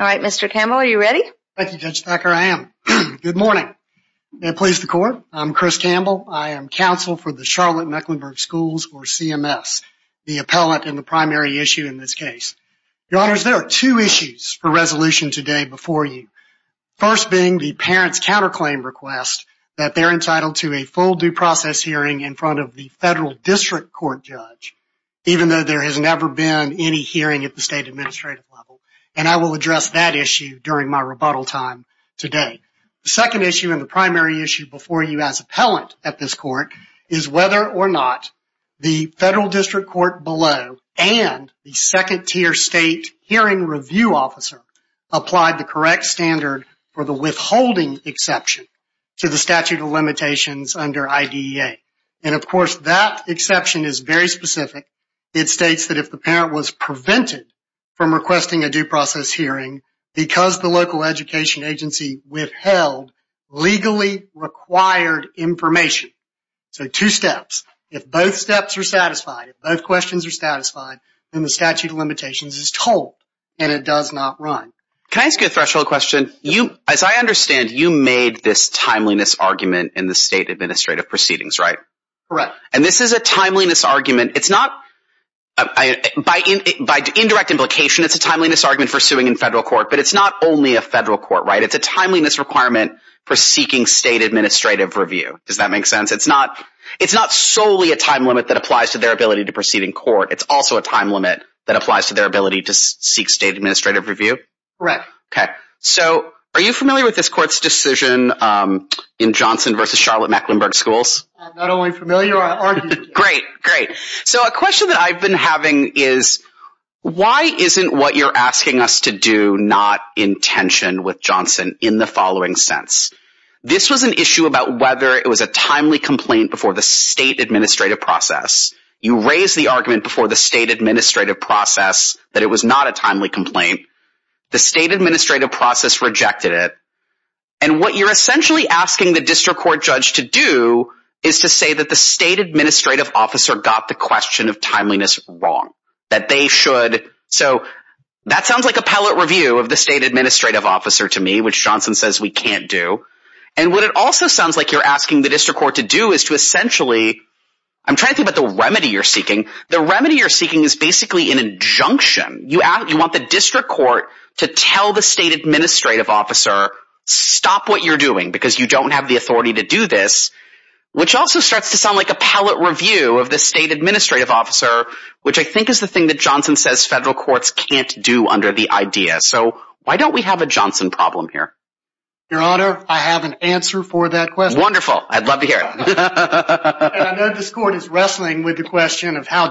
All right, Mr. Campbell, are you ready? Thank you, Judge Thacker, I am. Good morning. May it please the court, I'm Chris Campbell. I am counsel for the Charlotte-Mecklenburg Schools, or CMS, the appellate in the primary issue in this case. Your honors, there are two issues for resolution today before you. First being the parents' counterclaim request that they're entitled to a full due process hearing in front of the federal district court judge, even though there has never been any hearing at the state administrative level, and I will address that issue during my rebuttal time today. The second issue and the primary issue before you as appellant at this court is whether or not the federal district court below and the second-tier state hearing review officer applied the correct standard for the withholding exception to the statute of limitations under IDEA. And of course, that exception is very specific. It states that if the parent was prevented from requesting a due process hearing because the local education agency withheld legally required information, so two steps. If both steps are satisfied, if both questions are satisfied, then the statute of limitations is this timeliness argument in the state administrative proceedings, right? Correct. And this is a timeliness argument. It's not by indirect implication. It's a timeliness argument for suing in federal court, but it's not only a federal court, right? It's a timeliness requirement for seeking state administrative review. Does that make sense? It's not solely a time limit that applies to their ability to proceed in court. It's also a time limit that applies to their ability to seek state administrative review. Correct. Okay. So, are you familiar with this court's decision in Johnson v. Charlotte-Mecklenburg schools? I'm not only familiar, I argued it. Great, great. So, a question that I've been having is, why isn't what you're asking us to do not in tension with Johnson in the following sense? This was an issue about whether it was a timely complaint before the state administrative process. You raised the argument before the state administrative process that it was not a timely complaint. And what you're essentially asking the district court judge to do is to say that the state administrative officer got the question of timeliness wrong, that they should. So, that sounds like appellate review of the state administrative officer to me, which Johnson says we can't do. And what it also sounds like you're asking the district court to do is to essentially, I'm trying to think about the remedy you're seeking. The remedy you're seeking is basically an injunction. You want the district court to tell the state administrative officer, stop what you're doing because you don't have the authority to do this, which also starts to sound like appellate review of the state administrative officer, which I think is the thing that Johnson says federal courts can't do under the idea. So, why don't we have a Johnson problem here? Your Honor, I have an answer for that question. Wonderful. I'd love to hear it. And I know this court is wrestling with the question of how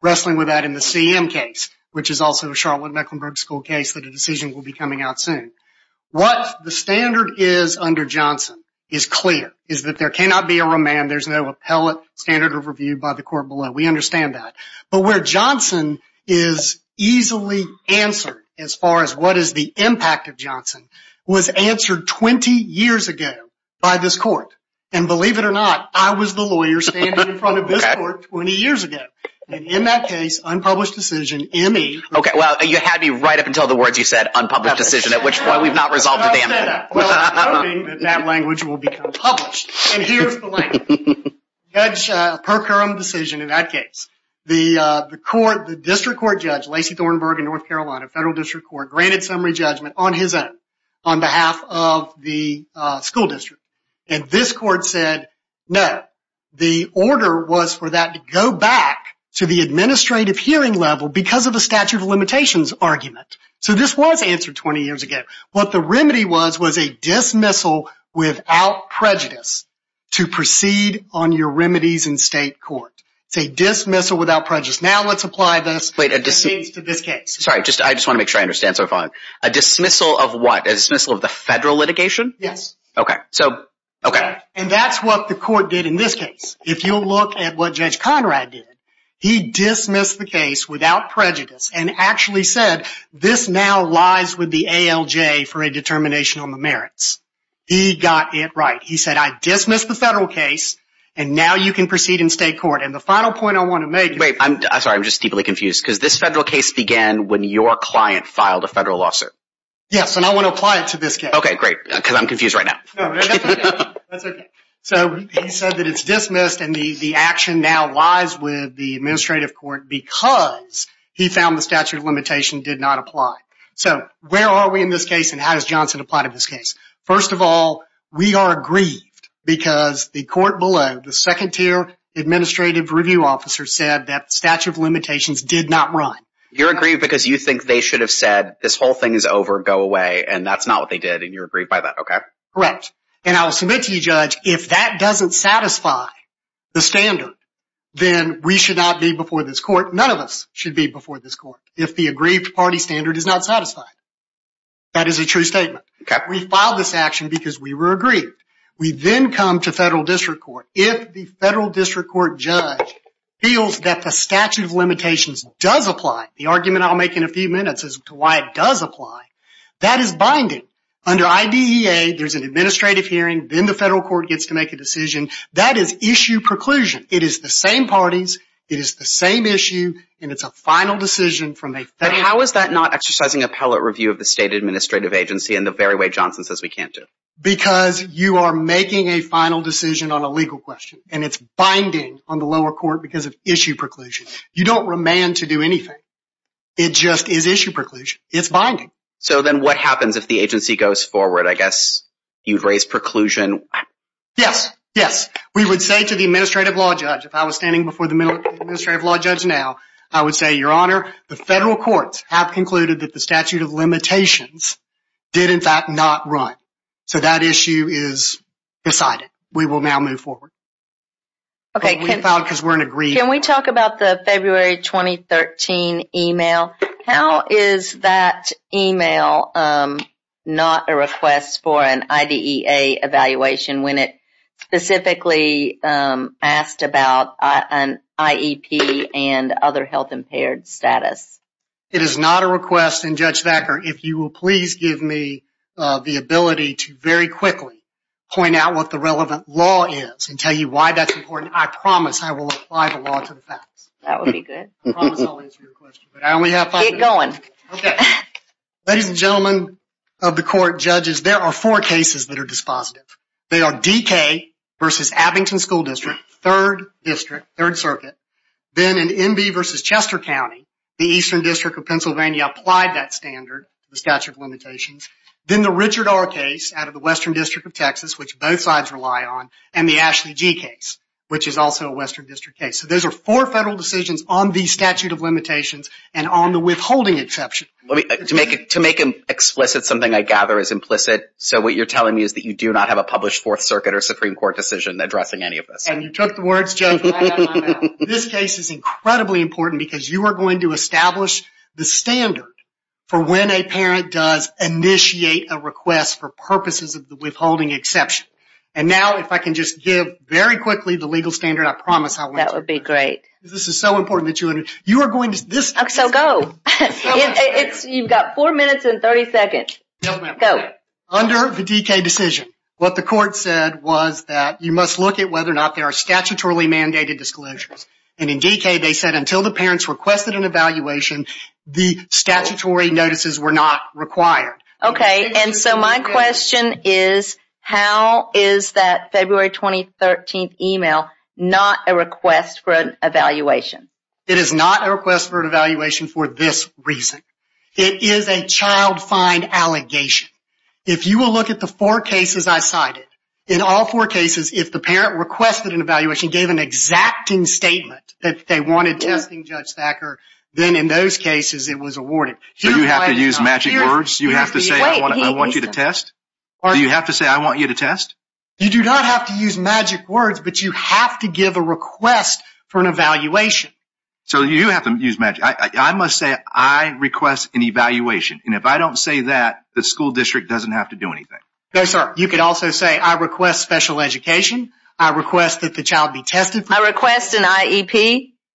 wrestling with that in the CM case, which is also a Charlotte Mecklenburg school case that a decision will be coming out soon. What the standard is under Johnson is clear, is that there cannot be a remand. There's no appellate standard of review by the court below. We understand that. But where Johnson is easily answered as far as what is the impact of Johnson was answered 20 years ago by this court. And believe it or not, I was the lawyer standing in front of this court 20 years ago. And in that case, unpublished decision, M.E. Okay. Well, you had me right up until the words you said, unpublished decision, at which point we've not resolved the M.E. I said that. Well, I'm hoping that that language will become published. And here's the link. That's a per currum decision in that case. The court, the district court judge, Lacey Thornberg in North Carolina, federal district court, granted summary judgment on his own, on behalf of the district. And this court said, no, the order was for that to go back to the administrative hearing level because of a statute of limitations argument. So this was answered 20 years ago. What the remedy was, was a dismissal without prejudice to proceed on your remedies in state court. It's a dismissal without prejudice. Now let's apply this to this case. Sorry, I just want to make sure I understand. So a dismissal of what? A dismissal of the federal litigation? Yes. Okay. So, okay. And that's what the court did in this case. If you'll look at what Judge Conrad did, he dismissed the case without prejudice and actually said, this now lies with the ALJ for a determination on the merits. He got it right. He said, I dismissed the federal case and now you can proceed in state court. And the final point I want to make. Wait, I'm sorry. I'm just deeply confused because this federal case began when your client filed a federal lawsuit. Yes. And I want to apply it to this case. Okay, great. Because I'm confused right now. So he said that it's dismissed and the action now lies with the administrative court because he found the statute of limitation did not apply. So where are we in this case and how does Johnson apply to this case? First of all, we are aggrieved because the court below, the second tier administrative review officer said that statute of limitations did not run. You're aggrieved because you think they should have said this whole thing is over, go away. And that's not what they did. And you're aggrieved by that. Okay. Correct. And I will submit to you judge, if that doesn't satisfy the standard, then we should not be before this court. None of us should be before this court. If the aggrieved party standard is not satisfied, that is a true statement. We filed this action because we were aggrieved. We then come to federal district court. If the federal district court judge feels that the statute of limitations does apply, the argument I'll make in a few minutes as to why does apply, that is binding. Under IDEA, there's an administrative hearing. Then the federal court gets to make a decision. That is issue preclusion. It is the same parties. It is the same issue. And it's a final decision from a federal. But how is that not exercising appellate review of the state administrative agency in the very way Johnson says we can't do? Because you are making a final decision on a legal question and it's binding on the lower court because of issue preclusion. You don't remand to do anything. It just is issue preclusion. It's binding. So then what happens if the agency goes forward? I guess you'd raise preclusion. Yes. Yes. We would say to the administrative law judge, if I was standing before the administrative law judge now, I would say, your honor, the federal courts have concluded that the statute of limitations did in fact not run. So that issue is decided. We will now move forward. Okay. Can we talk about the February 2013 email? How is that email not a request for an IDEA evaluation when it specifically asked about an IEP and other health impaired status? It is not a request. And Judge Thacker, if you will please give me the ability to very quickly point out what the relevant law is and tell you why that's important. I promise I will apply the law to the facts. That would be good. I promise I'll answer your question. But I only have five minutes. Get going. Okay. Ladies and gentlemen of the court, judges, there are four cases that are dispositive. They are DK versus Abington School District, third district, third circuit. Then in NB versus Chester County, the Eastern District of Pennsylvania applied that standard, the statute of limitations. Then the Richard R. case out of the Western District of Texas, which both sides rely on, and the Ashley G. case, which is also a Western District case. So those are four federal decisions on the statute of limitations and on the withholding exception. To make it explicit, something I gather is implicit. So what you're telling me is that you do not have a published Fourth Circuit or Supreme Court decision addressing any of this. And you took the words, Judge. This case is incredibly important because you are going to establish the standard for when a parent does initiate a request for purposes of the withholding exception. And now if I can just give very quickly the legal standard, I promise I will. That would be great. This is so important that you are going to. So go. You've got four minutes and 30 seconds. Go. Under the DK decision, what the court said was that you must look at whether or not there are statutorily mandated disclosures. And in DK, they said until the parents requested an evaluation, the statutory notices were not required. Okay. And so my question is, how is that February 2013 email not a request for an evaluation? It is not a request for an evaluation for this reason. It is a child fine allegation. If you will look at the four cases I cited, in all four cases, if the parent requested an evaluation, gave an exacting statement that they wanted testing Judge Thacker, then in those cases it was awarded. So you have to use magic words? You have to say, I want you to test? Do you have to say, I want you to test? You do not have to use magic words, but you have to give a request for an evaluation. So you have to use magic. I must say, I request an evaluation. And if I don't say that, the school district doesn't have to do anything. No, sir. You could also say, I request special education. I request that the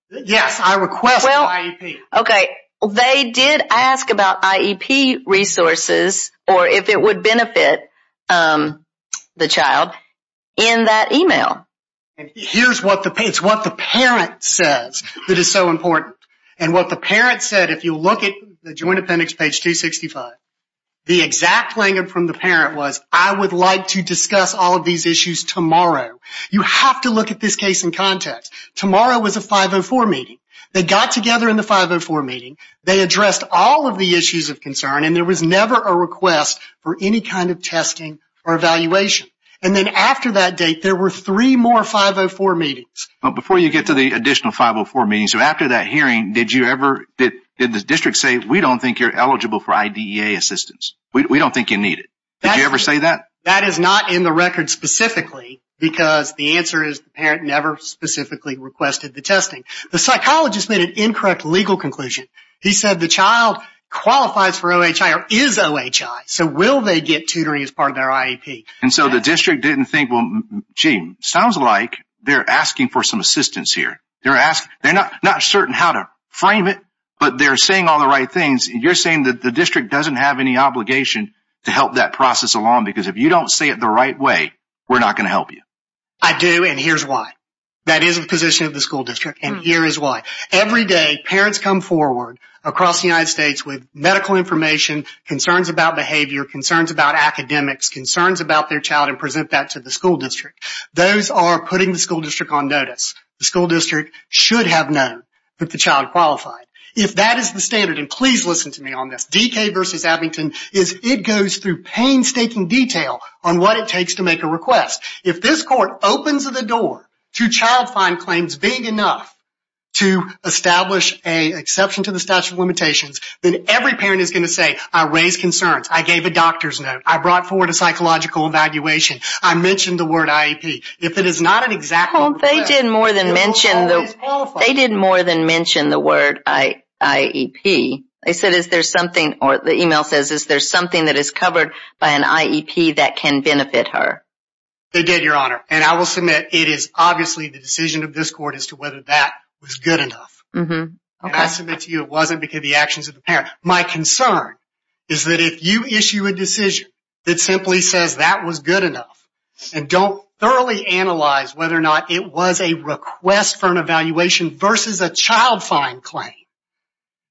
Yes, I request IEP. Okay. They did ask about IEP resources or if it would benefit the child in that email. And here is what the parent says that is so important. And what the parent said, if you look at the Joint Appendix page 265, the exact language from the parent was, I would like to discuss all of these issues tomorrow. You have to look at this case in context. Tomorrow was a 504 meeting. They got together in the 504 meeting. They addressed all of the issues of concern and there was never a request for any kind of testing or evaluation. And then after that date, there were three more 504 meetings. But before you get to the additional 504 meetings, so after that hearing, did you ever, did the district say, we don't think you're eligible for IDEA assistance? We don't think you need it. Did you ever say that? That is not in the record specifically because the answer is the parent never specifically requested the testing. The psychologist made an incorrect legal conclusion. He said the child qualifies for OHI or is OHI. So will they get tutoring as part of their IEP? And so the district didn't think, well, gee, sounds like they're asking for some assistance here. They're not certain how to frame it, but they're saying all the right things. You're saying that the district doesn't have any obligation to help that process because if you don't say it the right way, we're not going to help you. I do and here's why. That is the position of the school district and here is why. Every day, parents come forward across the United States with medical information, concerns about behavior, concerns about academics, concerns about their child and present that to the school district. Those are putting the school district on notice. The school district should have known that the child qualified. If that is the standard, and please listen to me on this, DK v. Abington, it goes through painstaking detail on what it takes to make a request. If this court opens the door to child fine claims big enough to establish an exception to the statute of limitations, then every parent is going to say, I raised concerns, I gave a doctor's note, I brought forward a psychological evaluation, I mentioned the word IEP. If it is not an exact They did more than mention the word IEP. The email says, is there something that is covered by an IEP that can benefit her? They did, Your Honor, and I will submit it is obviously the decision of this court as to whether that was good enough. I submit to you it wasn't because of the actions of the parent. My concern is that if you issue a decision that simply says that was good enough and don't thoroughly analyze whether or not it was a request for an evaluation versus a child fine claim,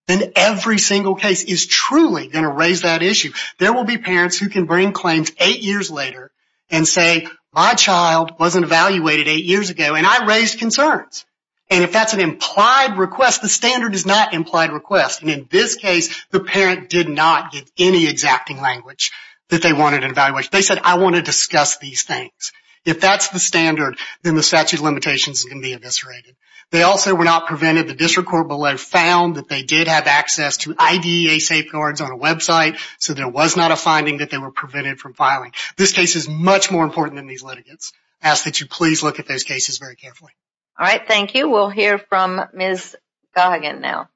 then every single case is truly going to raise that issue. There will be parents who can bring claims eight years later and say, my child wasn't evaluated eight years ago and I raised concerns. If that is an implied request, the standard is not implied request. In this case, the parent did not give any exacting language that they wanted an evaluation. They said, I want to discuss these things. If that's the standard, then the statute of limitations can be eviscerated. They also were not prevented. The district court below found that they did have access to IDEA safeguards on a website, so there was not a finding that they were prevented from filing. This case is much more important than these litigants. I ask that you please look at those cases very carefully. All right, thank you. We'll hear from Ms. Gahagan now.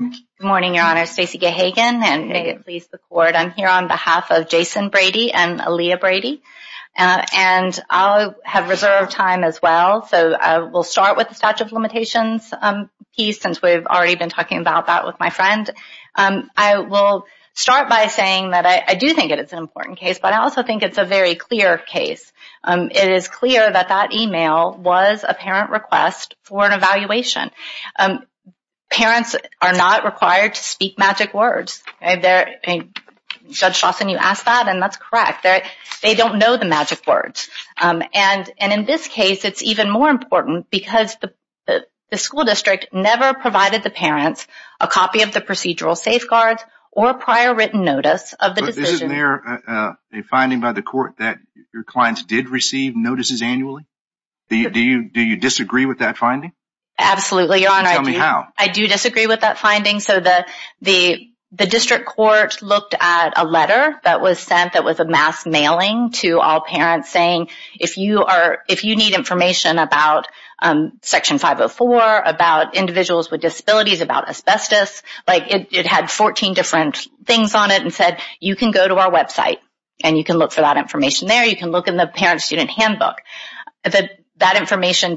Good morning, Stacy Gahagan. I'm here on behalf of Jason Brady and Aaliyah Brady. I'll have reserved time as well. We'll start with the statute of limitations piece since we've already been talking about that with my friend. I will start by saying that I do think it's an important case, but I also think it's a very clear case. It is clear that that email was a parent request for an evaluation. Parents are not required to speak magic words. Judge Chawson, you asked that, and that's correct. They don't know the magic words. In this case, it's even more important because the school district never provided the parents a copy of the procedural safeguards or prior written notice of the decision. Isn't there a finding by the court that your clients did receive notices annually? Do you disagree with that finding? Absolutely, Your Honor. Tell me how. I do disagree with that finding. The district court looked at a letter that was sent that was a mass mailing to all parents saying, if you need information about Section 504, about individuals with disabilities, about asbestos, it had 14 different things on it and said, you can go to our website and you can look for that information there. You can look in the parent-student handbook. That information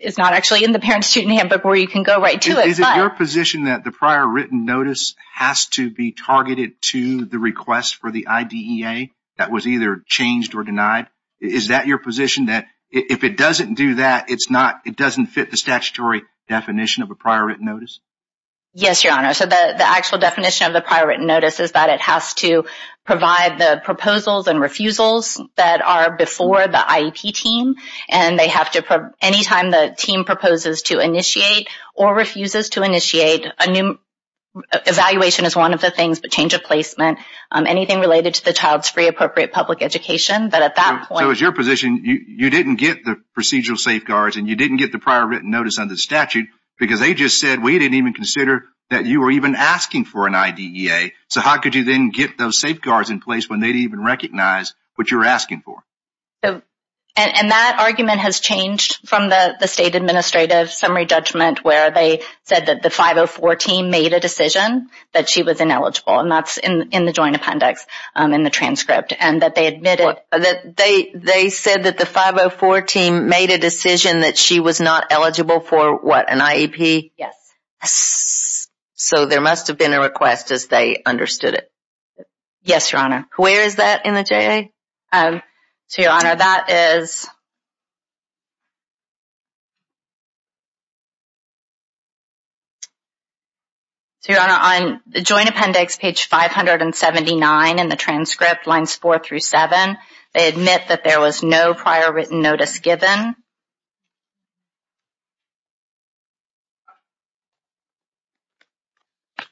is not actually in the parent-student handbook where you can go right to it. Is it your position that the prior written notice has to be targeted to the request for the IDEA that was either changed or denied? Is that your position that if it doesn't do that, it doesn't fit the statutory definition of a prior written notice? Yes, Your Honor. The actual definition of the prior written notice is that it has to provide the proposals and refusals that are before the IEP team. Anytime the team proposes to initiate or refuses to initiate, evaluation is one of the things, but change of placement, anything related to the child's free, appropriate public education, that at that point... So it's your position, you didn't get the procedural safeguards and you didn't get the prior written notice under the statute because they just said, we didn't even consider that So how could you then get those safeguards in place when they didn't even recognize what you're asking for? And that argument has changed from the State Administrative Summary Judgment where they said that the 504 team made a decision that she was ineligible, and that's in the Joint Appendix in the transcript, and that they admitted... They said that the 504 team made a decision that she was not eligible for what, an IEP? Yes. So there must have been a request as they understood it. Yes, Your Honor. Where is that in the JA? So, Your Honor, that is... So, Your Honor, on the Joint Appendix, page 579 in the transcript, lines 4 through 7, they admit that there was no prior written notice given. I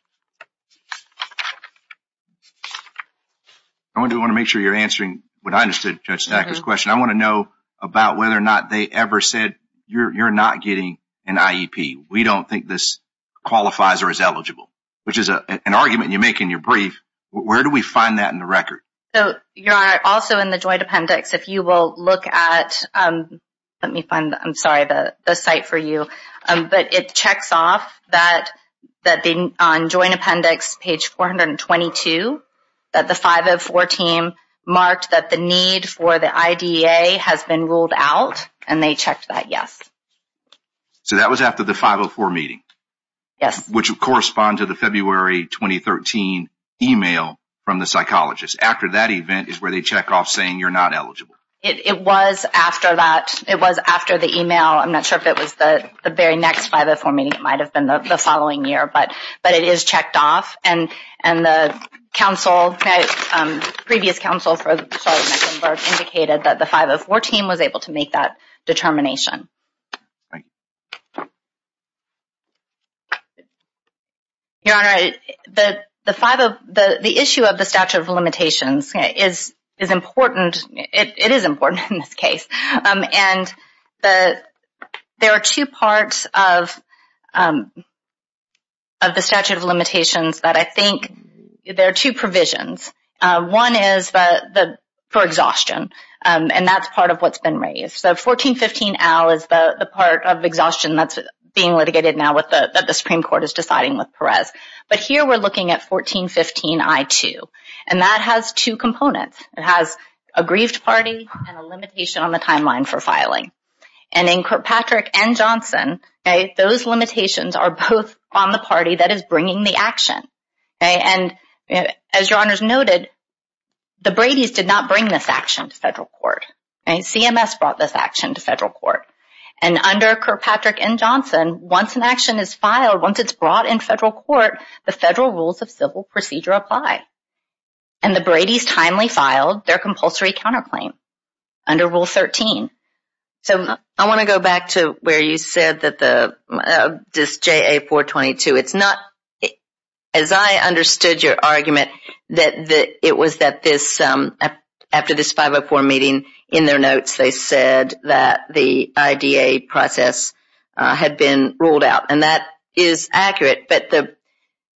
want to make sure you're answering what I understood Judge Sackler's question. I want to know about whether or not they ever said, you're not getting an IEP. We don't think this qualifies or is eligible, which is an argument you make in your brief. Where do we find that in the record? So, Your Honor, also in the Joint Appendix, if you will look at... Let me find, I'm sorry, the site for you. But it checks off that on Joint Appendix, page 422, that the 504 team marked that the need for the IDEA has been ruled out and they checked that yes. So that was after the 504 meeting? Yes. Which would correspond to the February 2013 email from the psychologist. After that event is where they check off saying you're not eligible. It was after that. It was after the email. I'm not sure if it was the very next 504 meeting. It might have been the following year. But it is checked off. And the previous counsel indicated that the 504 team was able to make that determination. Your Honor, the issue of the statute of limitations is important. It is important in this case. And there are two parts of the statute of limitations that I think... There are two provisions. One is for exhaustion. And that's part of what's been raised. So 1415-L is the part of exhaustion that's being litigated now that the Supreme Court is deciding with Perez. But here we're looking at 1415-I-2. And that has two components. It has a grieved party and a limitation on the timeline for filing. And in Kirkpatrick and Johnson, those limitations are both on the party that is bringing the action. And as Your Honors noted, the Bradys did not bring this action to federal court. CMS brought this action to federal court. And under Kirkpatrick and Johnson, once an action is filed, once it's brought in federal court, the federal rules of civil procedure apply. And the Bradys timely filed their compulsory counterclaim under Rule 13. So I want to go back to where you said that this JA-422, it's not... As I understood your argument, that it was that this... After this 504 meeting, in their notes, they said that the IDA process had been ruled out. And that is accurate. But the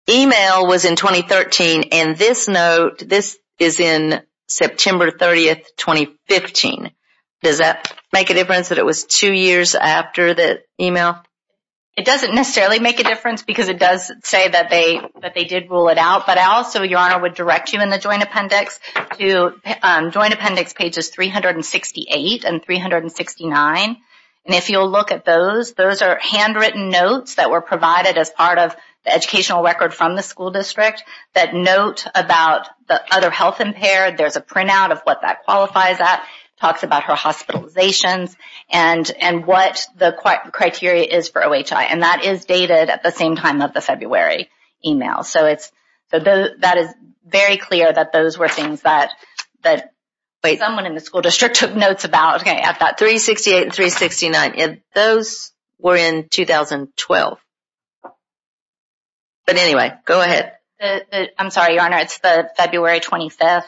email was in 2013. And this note, this is in September 30, 2015. Does that make a difference that it was two years after the email? It doesn't necessarily make a difference because it does say that they did rule it out. But I also, Your Honor, would direct you in the Joint Appendix to Joint Appendix pages 368 and 369. And if you'll look at those, those are handwritten notes that were provided as part of the educational record from the school district. That note about the other health impaired, there's a printout of what that qualifies at. Talks about her hospitalizations and what the criteria is for OHI. And that is dated at the same time of the February email. So that is very clear that those were things that someone in the school district took notes about at that 368 and 369. Those were in 2012. But anyway, go ahead. I'm sorry, Your Honor. It's the February 25th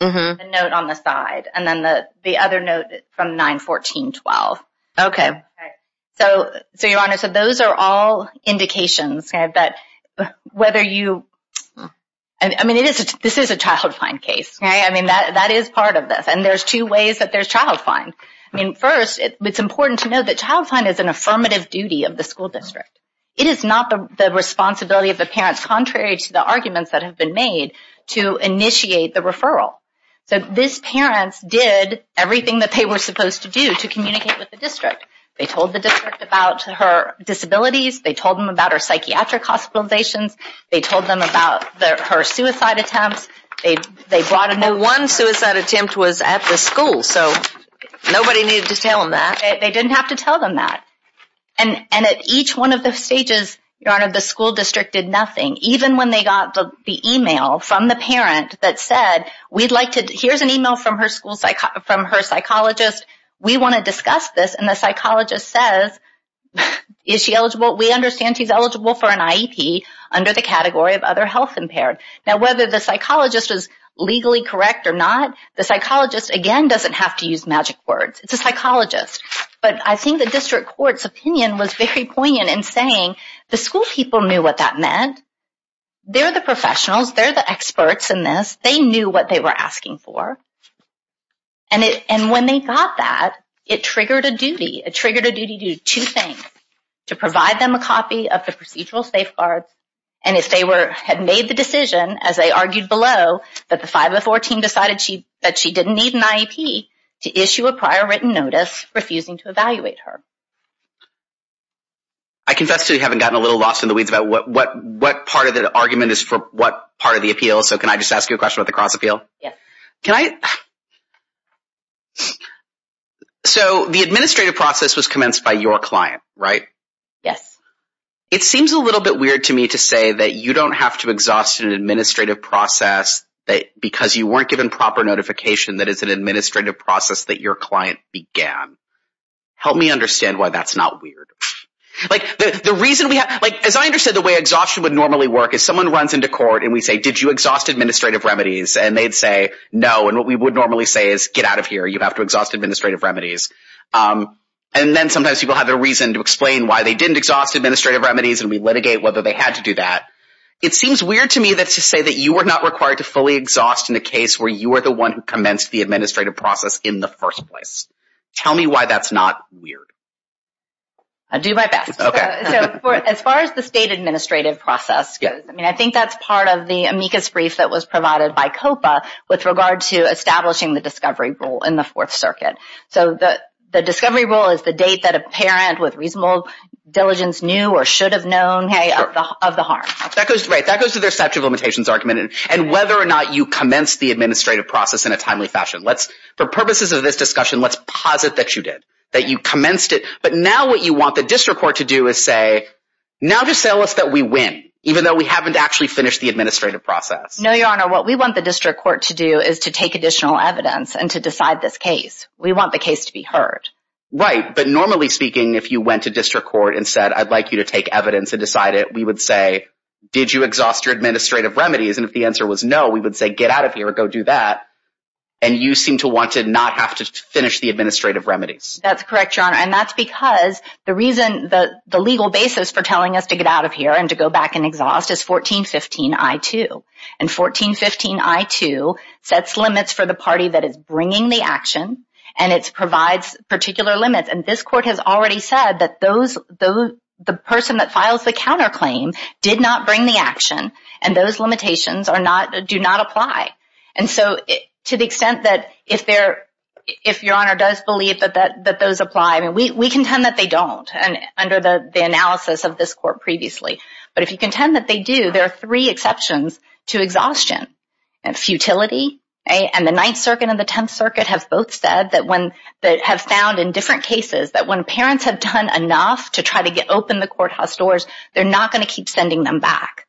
note on the side. And then the other note from 9-14-12. OK. So, Your Honor, so those are all indications that whether you, I mean, this is a child fine case. I mean, that is part of this. And there's two ways that there's child fine. I mean, first, it's important to know that child fine is an affirmative duty of the school district. It is not the responsibility of the parents, contrary to the arguments that have been made, to initiate the referral. So these parents did everything that they were supposed to do to communicate with the district. They told the district about her disabilities. They told them about her psychiatric hospitalizations. They told them about her suicide attempts. They brought a note. One suicide attempt was at the school. So nobody needed to tell them that. They didn't have to tell them that. And at each one of the stages, Your Honor, the school district did nothing. Even when they got the email from the parent that said, here's an email from her psychologist. We want to discuss this. And the psychologist says, is she eligible? We understand she's eligible for an IEP under the category of other health impaired. Now, whether the psychologist was legally correct or not, the psychologist, again, doesn't have to use magic words. It's a psychologist. But I think the district court's opinion was very poignant in saying the school people knew what that meant. They're the professionals. They're the experts in this. They knew what they were asking for. And when they got that, it triggered a duty. It triggered a duty to do two things, to provide them a copy of the procedural safeguards. And if they had made the decision, as they argued below, that the 504 team decided that she didn't need an IEP, to issue a prior written notice refusing to evaluate her. I confess to having gotten a little lost in the weeds about what part of the argument is for what part of the appeal. So can I just ask you a question about the cross appeal? Yes. So the administrative process was commenced by your client, right? Yes. It seems a little bit weird to me to say that you don't have to exhaust an administrative process because you weren't given proper notification that it's an administrative process that your client began. Help me understand why that's not weird. As I understand, the way exhaustion would normally work is someone runs into court and we say, did you exhaust administrative remedies? And they'd say, no. And what we would normally say is, get out of here. You have to exhaust administrative remedies. And then sometimes people have a reason to explain why they didn't exhaust administrative remedies and we litigate whether they had to do that. It seems weird to me to say that you were not required to fully exhaust in the case where you were the one who commenced the administrative process in the first place. Tell me why that's not weird. I'll do my best. OK. As far as the state administrative process goes, I mean, I think that's part of the amicus brief that was provided by COPA with regard to establishing the discovery rule in the Fourth Circuit. So the discovery rule is the date that a parent with reasonable diligence knew or should have known of the harm. That goes to their statute of limitations argument and whether or not you commenced the administrative process in a timely fashion. For purposes of this discussion, let's posit that you did, that you commenced it. But now what you want the district court to do is say, now just tell us that we win, even though we haven't actually finished the administrative process. No, Your Honor. What we want the district court to do is to take additional evidence and to decide this We want the case to be heard. Right. But normally speaking, if you went to district court and said, I'd like you to take evidence and decide it, we would say, did you exhaust your administrative remedies? And if the answer was no, we would say, get out of here or go do that. And you seem to want to not have to finish the administrative remedies. That's correct, Your Honor. And that's because the reason the legal basis for telling us to get out of here and to go back and exhaust is 1415 I-2. And 1415 I-2 sets limits for the party that is bringing the action. And it provides particular limits. And this court has already said that the person that files the counterclaim did not bring the action. And those limitations do not apply. And so to the extent that if Your Honor does believe that those apply, we contend that they don't under the analysis of this court previously. But if you contend that they do, there are three exceptions to exhaustion. Futility. And the Ninth Circuit and the Tenth Circuit have both said that when they have found in different cases that when parents have done enough to try to get open the courthouse doors, they're not going to keep sending them back.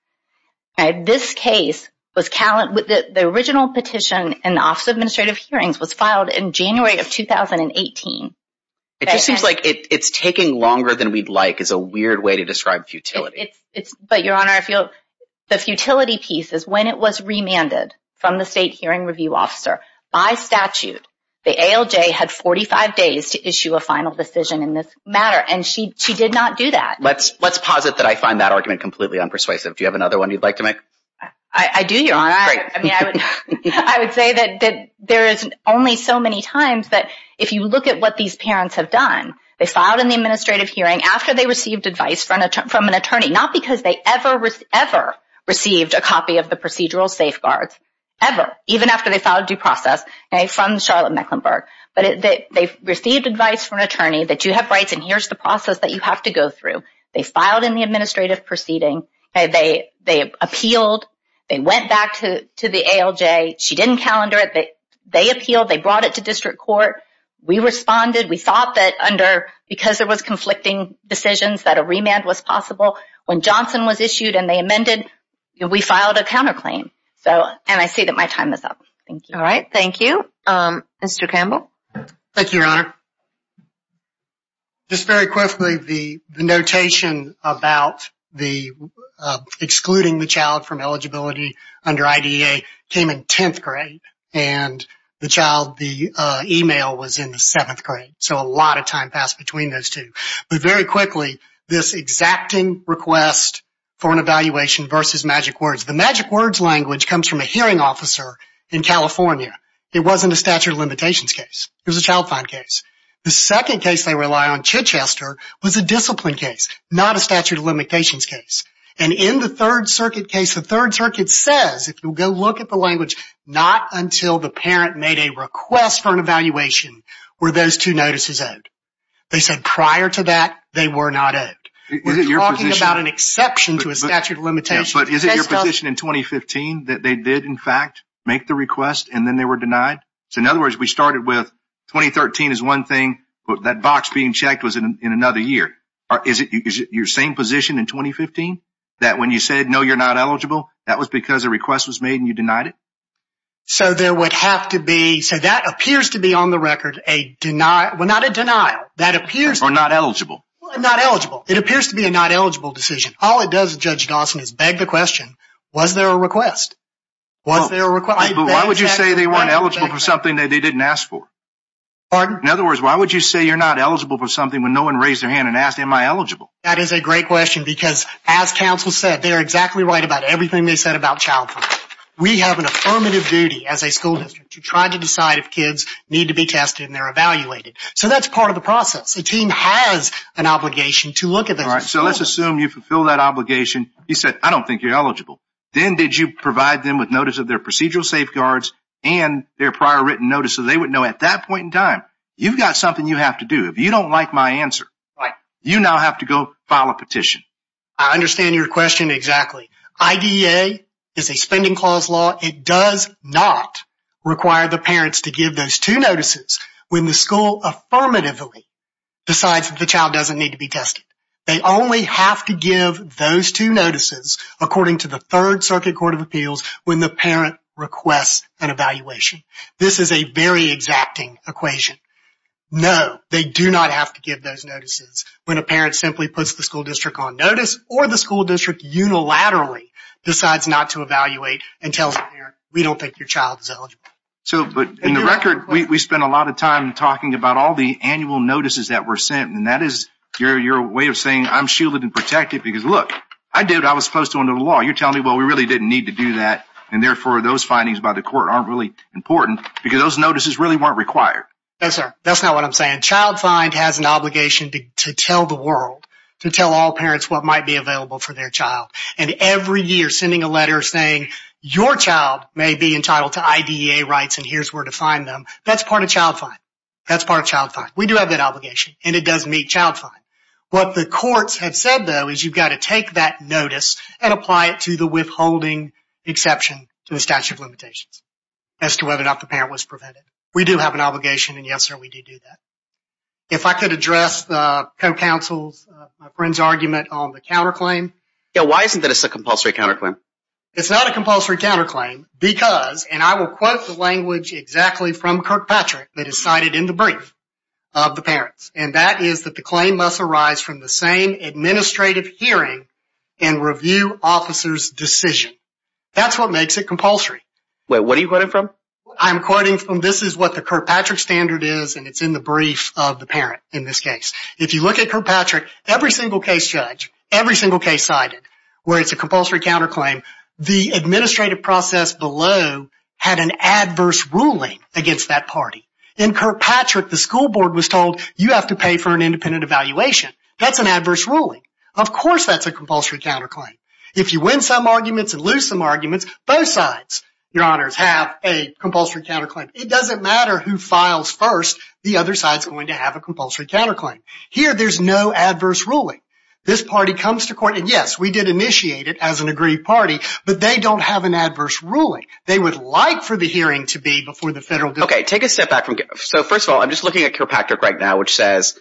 This case was the original petition in the Office of Administrative Hearings was filed in January of 2018. It just seems like it's taking longer than we'd like is a weird way to describe futility. But Your Honor, the futility piece is when it was remanded from the state hearing review officer by statute, the ALJ had 45 days to issue a final decision in this matter. And she did not do that. Let's posit that I find that argument completely unpersuasive. Do you have another one you'd like to make? I do, Your Honor. I would say that there is only so many times that if you look at what these parents have done, they filed in the administrative hearing after they received advice from an attorney, not because they ever, ever received a copy of the procedural safeguards, ever, even after they filed due process from Charlotte Mecklenburg. But they received advice from an attorney that you have rights and here's the process that you have to go through. They filed in the administrative proceeding. They appealed. They went back to the ALJ. She didn't calendar it. They appealed. They brought it to district court. We responded. We thought that under, because there was conflicting decisions, that a remand was possible. When Johnson was issued and they amended, we filed a counterclaim. So, and I see that my time is up. Thank you. All right. Thank you. Mr. Campbell. Thank you, Your Honor. Just very quickly, the notation about the excluding the child from eligibility under IDEA came in 10th grade and the child, the email was in the 7th grade. So, a lot of time passed between those two. But very quickly, this exacting request for an evaluation versus Magic Words. The Magic Words language comes from a hearing officer in California. It wasn't a statute of limitations case. It was a child fine case. The second case they rely on, Chichester, was a discipline case, not a statute of limitations case. And in the Third Circuit case, the Third Circuit says, if you go look at the language, not until the parent made a request for an evaluation were those two notices owed. They said prior to that, they were not owed. We're talking about an exception to a statute of limitations. But is it your position in 2015 that they did, in fact, make the request and then they were denied? So, in other words, we started with 2013 is one thing, but that box being checked was in another year. Is it your same position in 2015 that when you said, no, you're not eligible, that was because a request was made and you denied it? So there would have to be, so that appears to be on the record, a denial, well, not a denial. That appears... Or not eligible. Not eligible. It appears to be a not eligible decision. All it does, Judge Dawson, is beg the question, was there a request? Was there a request? Why would you say they weren't eligible for something that they didn't ask for? Pardon? In other words, why would you say you're not eligible for something when no one raised their hand and asked, am I eligible? That is a great question because, as counsel said, they're exactly right about everything they said about child fine. We have an affirmative duty as a school district to try to decide if kids need to be tested and they're evaluated. So that's part of the process. The team has an obligation to look at that. All right, so let's assume you fulfill that obligation. You said, I don't think you're eligible. Then did you provide them with notice of their procedural safeguards and their prior written notice so they would know at that point in time, you've got something you have to do. If you don't like my answer, you now have to go file a petition. I understand your question exactly. IDEA is a spending clause law. It does not require the parents to give those two notices when the school affirmatively decides that the child doesn't need to be tested. They only have to give those two notices, according to the Third Circuit Court of Appeals, when the parent requests an evaluation. This is a very exacting equation. No, they do not have to give those notices when a parent simply puts the school district on notice or the school district unilaterally decides not to evaluate and tells the parent, we don't think your child is eligible. So, but in the record, we spent a lot of time talking about all the annual notices that were sent. And that is your way of saying, I'm shielded and protected because look, I did. I was supposed to under the law. You're telling me, well, we really didn't need to do that. And therefore, those findings by the court aren't really important because those notices really weren't required. Yes, sir. That's not what I'm saying. Child find has an obligation to tell the world, to tell all parents what might be available for their child. And every year sending a letter saying your child may be entitled to IDEA rights and here's where to find them. That's part of child fine. That's part of child fine. We do have that obligation and it does meet child fine. What the courts have said, though, is you've got to take that notice and apply it to the withholding exception to the statute of limitations as to whether or not the parent was prevented. We do have an obligation. And yes, sir, we do do that. If I could address the co-counsel's friend's argument on the counterclaim. Yeah, why isn't that it's a compulsory counterclaim? It's not a compulsory counterclaim because, and I will quote the language exactly from Kirkpatrick that is cited in the brief of the parents, and that is that the claim must arise from the same administrative hearing and review officer's decision. That's what makes it compulsory. Wait, what are you quoting from? I'm quoting from this is what the Kirkpatrick standard is, and it's in the brief of the parent in this case. If you look at Kirkpatrick, every single case judge, every single case cited where it's a compulsory counterclaim, the administrative process below had an adverse ruling against that party. In Kirkpatrick, the school board was told you have to pay for an independent evaluation. That's an adverse ruling. Of course, that's a compulsory counterclaim. If you win some arguments and lose some arguments, both sides, your honors, have a compulsory counterclaim. It doesn't matter who files first. The other side's going to have a compulsory counterclaim. Here, there's no adverse ruling. This party comes to court, and yes, we did initiate it as an agreed party, but they don't have an adverse ruling. They would like for the hearing to be before the federal district. Okay, take a step back from, so first of all, I'm just looking at Kirkpatrick right now, which says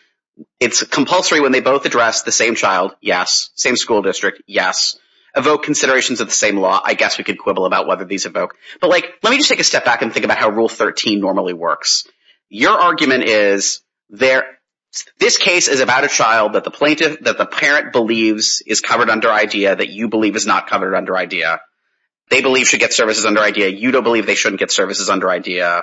it's compulsory when they both address the same child. Yes. Same school district. Yes. Evoke considerations of the same law. I guess we could quibble about whether these evoke, but let me just take a step back and think about how Rule 13 normally works. Your argument is this case is about a child that the parent believes is covered under IDEA that you believe is not covered under IDEA. They believe should get services under IDEA. You don't believe they shouldn't get services under IDEA.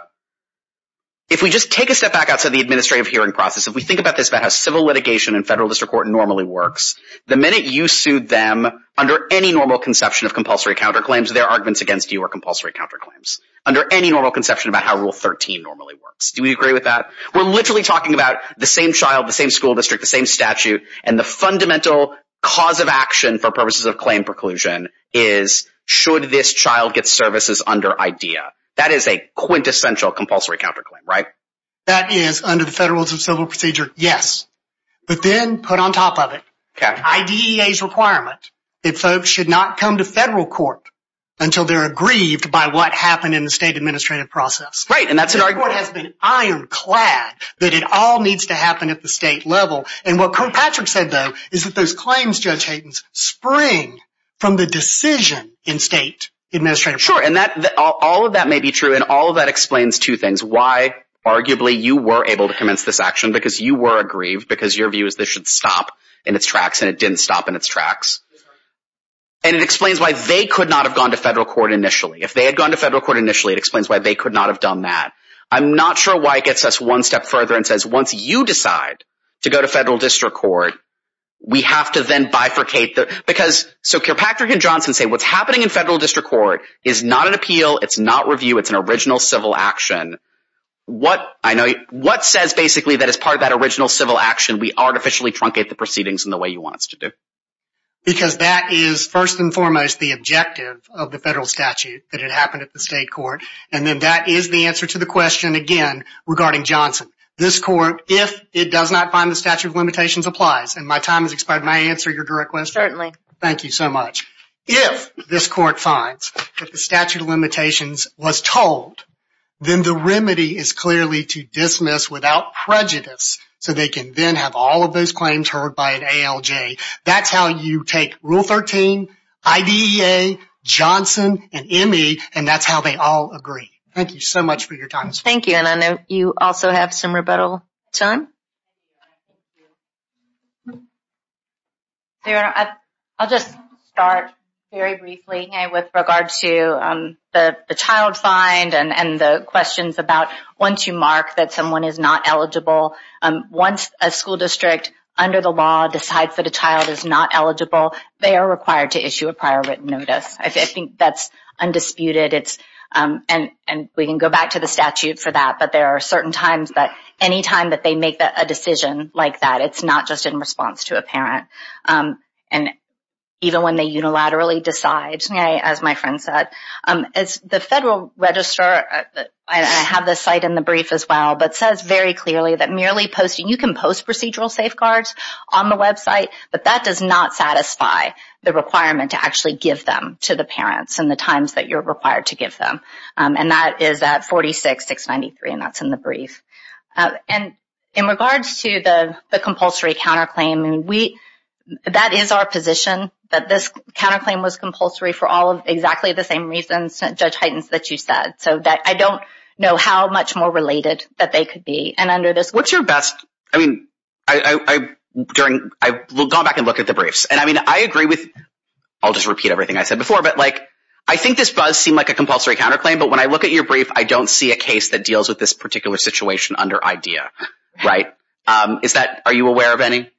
If we just take a step back outside the administrative hearing process, if we think about this, about how civil litigation in federal district court normally works, the minute you sued them under any normal conception of compulsory counterclaims, their arguments against you are compulsory counterclaims. Under any normal conception about how Rule 13 normally works. Do we agree with that? We're literally talking about the same child, the same school district, the same statute, and the fundamental cause of action for purposes of claim preclusion is should this child get services under IDEA. That is a quintessential compulsory counterclaim, right? That is under the federal civil procedure, yes. But then put on top of it, IDEA's requirement that folks should not come to federal court until they're aggrieved by what happened in the state administrative process. Right. And that's what has been ironclad that it all needs to happen at the state level. And what Kirkpatrick said, though, is that those claims, Judge Hayden, spring from the decision in state administrative. Sure. And that all of that may be true. And all of that explains two things. Arguably, you were able to commence this action because you were aggrieved because your view is this should stop in its tracks. And it didn't stop in its tracks. And it explains why they could not have gone to federal court initially. If they had gone to federal court initially, it explains why they could not have done that. I'm not sure why it gets us one step further and says, once you decide to go to federal district court, we have to then bifurcate. Because so Kirkpatrick and Johnson say what's happening in federal district court is not an appeal. It's not review. It's an original civil action. What says, basically, that as part of that original civil action, we artificially truncate the proceedings in the way you want us to do? Because that is, first and foremost, the objective of the federal statute, that it happened at the state court. And then that is the answer to the question, again, regarding Johnson. This court, if it does not find the statute of limitations, applies. And my time has expired. May I answer your direct question? Certainly. Thank you so much. If this court finds that the statute of limitations was told, then the remedy is clearly to dismiss without prejudice so they can then have all of those claims heard by an ALJ. That's how you take Rule 13, IDEA, Johnson, and ME. And that's how they all agree. Thank you so much for your time. Thank you. And I know you also have some rebuttal time. I'll just start very briefly with regards to the child find and the questions about once you mark that someone is not eligible, once a school district, under the law, decides that a child is not eligible, they are required to issue a prior written notice. I think that's undisputed. And we can go back to the statute for that. But there are certain times that any time that they make a decision like that, it's not just in response to a parent. And even when they unilaterally decide, as my friend said, the Federal Register, I have this site in the brief as well, but says very clearly that merely posting, you can post procedural safeguards on the website, but that does not satisfy the requirement to actually give them to the parents in the times that you're required to give them. And that is at 46-693, and that's in the brief. And in regards to the compulsory counterclaim, that is our position, that this counterclaim was compulsory for all of exactly the same reasons, Judge Heitens, that you said. So I don't know how much more related that they could be. And under this— What's your best—I mean, I've gone back and looked at the briefs. And I mean, I agree with—I'll just repeat everything I said before, but like, I think this does seem like a compulsory counterclaim, but when I look at your brief, I don't see a case that deals with this particular situation under IDEA, right? Are you aware of any?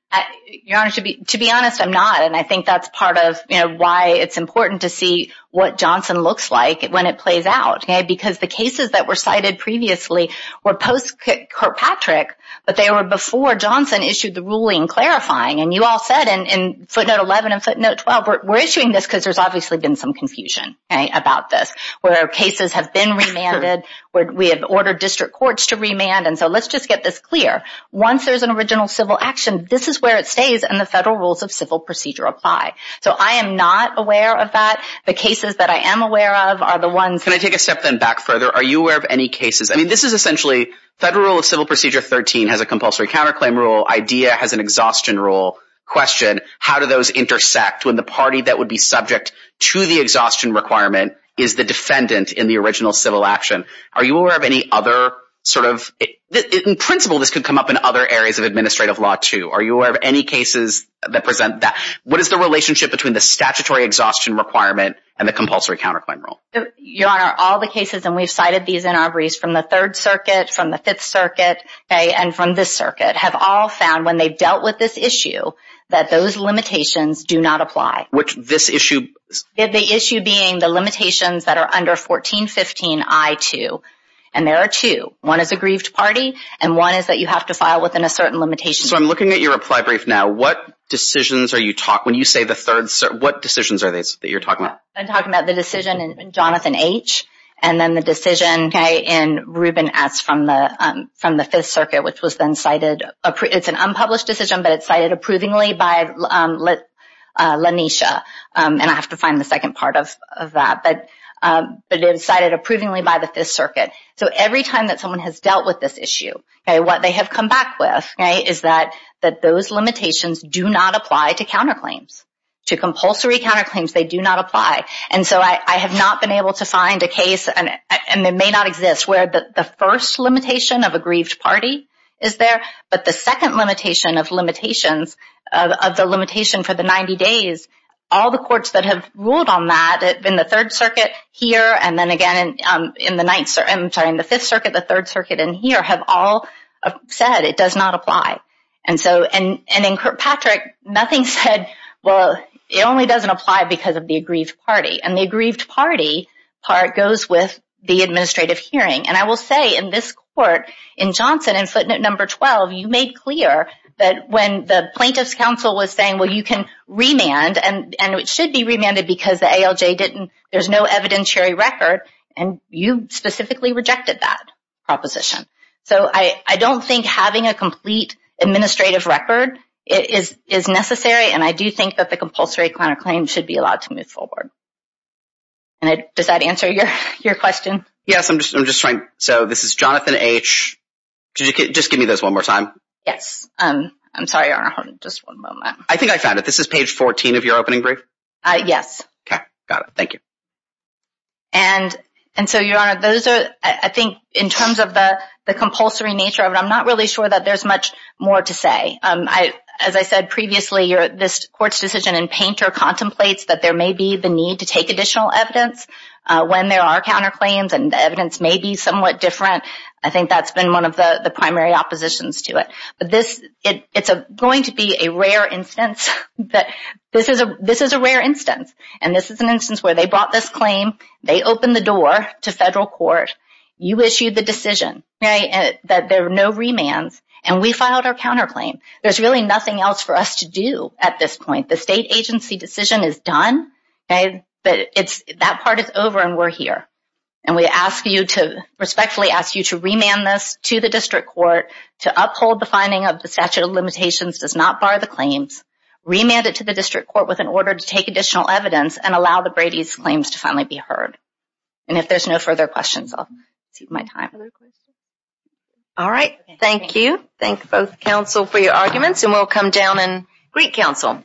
Your Honor, to be honest, I'm not. And I think that's part of why it's important to see what Johnson looks like when it plays out, because the cases that were cited previously were post-Kirkpatrick, but they were before Johnson issued the ruling clarifying. And you all said in footnote 11 and footnote 12, we're issuing this because there's been some confusion about this, where cases have been remanded, where we have ordered district courts to remand. And so let's just get this clear. Once there's an original civil action, this is where it stays, and the federal rules of civil procedure apply. So I am not aware of that. The cases that I am aware of are the ones— Can I take a step then back further? Are you aware of any cases—I mean, this is essentially federal rule of civil procedure 13 has a compulsory counterclaim rule. IDEA has an exhaustion rule. Question, how do those intersect when the party that would be subject to the exhaustion requirement is the defendant in the original civil action? Are you aware of any other sort of—in principle, this could come up in other areas of administrative law too. Are you aware of any cases that present that? What is the relationship between the statutory exhaustion requirement and the compulsory counterclaim rule? Your Honor, all the cases, and we've cited these in our briefs from the Third Circuit, from the Fifth Circuit, and from this circuit, have all found when they've dealt with this issue that those limitations do not apply. Which this issue— The issue being the limitations that are under 1415I2, and there are two. One is a grieved party, and one is that you have to file within a certain limitation. So I'm looking at your reply brief now. What decisions are you talking—when you say the third—what decisions are these that you're talking about? I'm talking about the decision in Jonathan H., and then the decision in Reuben S. from the Fifth Circuit, which was then cited—it's an unpublished decision, but it's cited approvingly by LaNesha, and I have to find the second part of that. But it's cited approvingly by the Fifth Circuit. So every time that someone has dealt with this issue, what they have come back with is that those limitations do not apply to counterclaims. To compulsory counterclaims, they do not apply. And so I have not been able to find a case, and it may not exist, where the first limitation of a grieved party is there, but the second limitation of limitations—of the limitation for the 90 days—all the courts that have ruled on that in the Third Circuit here, and then again in the Fifth Circuit, the Third Circuit, and here have all said it does not apply. And so—and in Kirkpatrick, nothing said, well, it only doesn't apply because of the aggrieved party. And the aggrieved party part goes with the administrative hearing. And I will say in this court, in Johnson, in footnote number 12, you made clear that when the plaintiff's counsel was saying, well, you can remand, and it should be remanded because the ALJ didn't—there's no evidentiary record, and you specifically rejected that proposition. So I don't think having a complete administrative record is necessary, and I do think that the compulsory counterclaim should be allowed to move forward. And does that answer your question? Yes, I'm just trying—so this is Jonathan H. Just give me those one more time. Yes. I'm sorry, Your Honor, just one moment. I think I found it. This is page 14 of your opening brief? Yes. Okay, got it. Thank you. And so, Your Honor, those are, I think, in terms of the compulsory nature of it, I'm not really sure that there's much more to say. As I said previously, this Court's decision in Painter contemplates that there may be the need to take additional evidence when there are counterclaims, and the evidence may be somewhat different. I think that's been one of the primary oppositions to it. But this—it's going to be a rare instance. This is a rare instance. And this is an instance where they brought this claim, they opened the door to federal court, you issued the decision that there are no remands, and we filed our counterclaim. There's really nothing else for us to do at this point. The state agency decision is done, but that part is over and we're here. And we respectfully ask you to remand this to the district court to uphold the finding of the statute of limitations does not bar the claims, remand it to the district court in order to take additional evidence and allow the Brady's claims to finally be heard. And if there's no further questions, I'll save my time. All right. Thank you. Thank both counsel for your arguments, and we'll come down and greet counsel.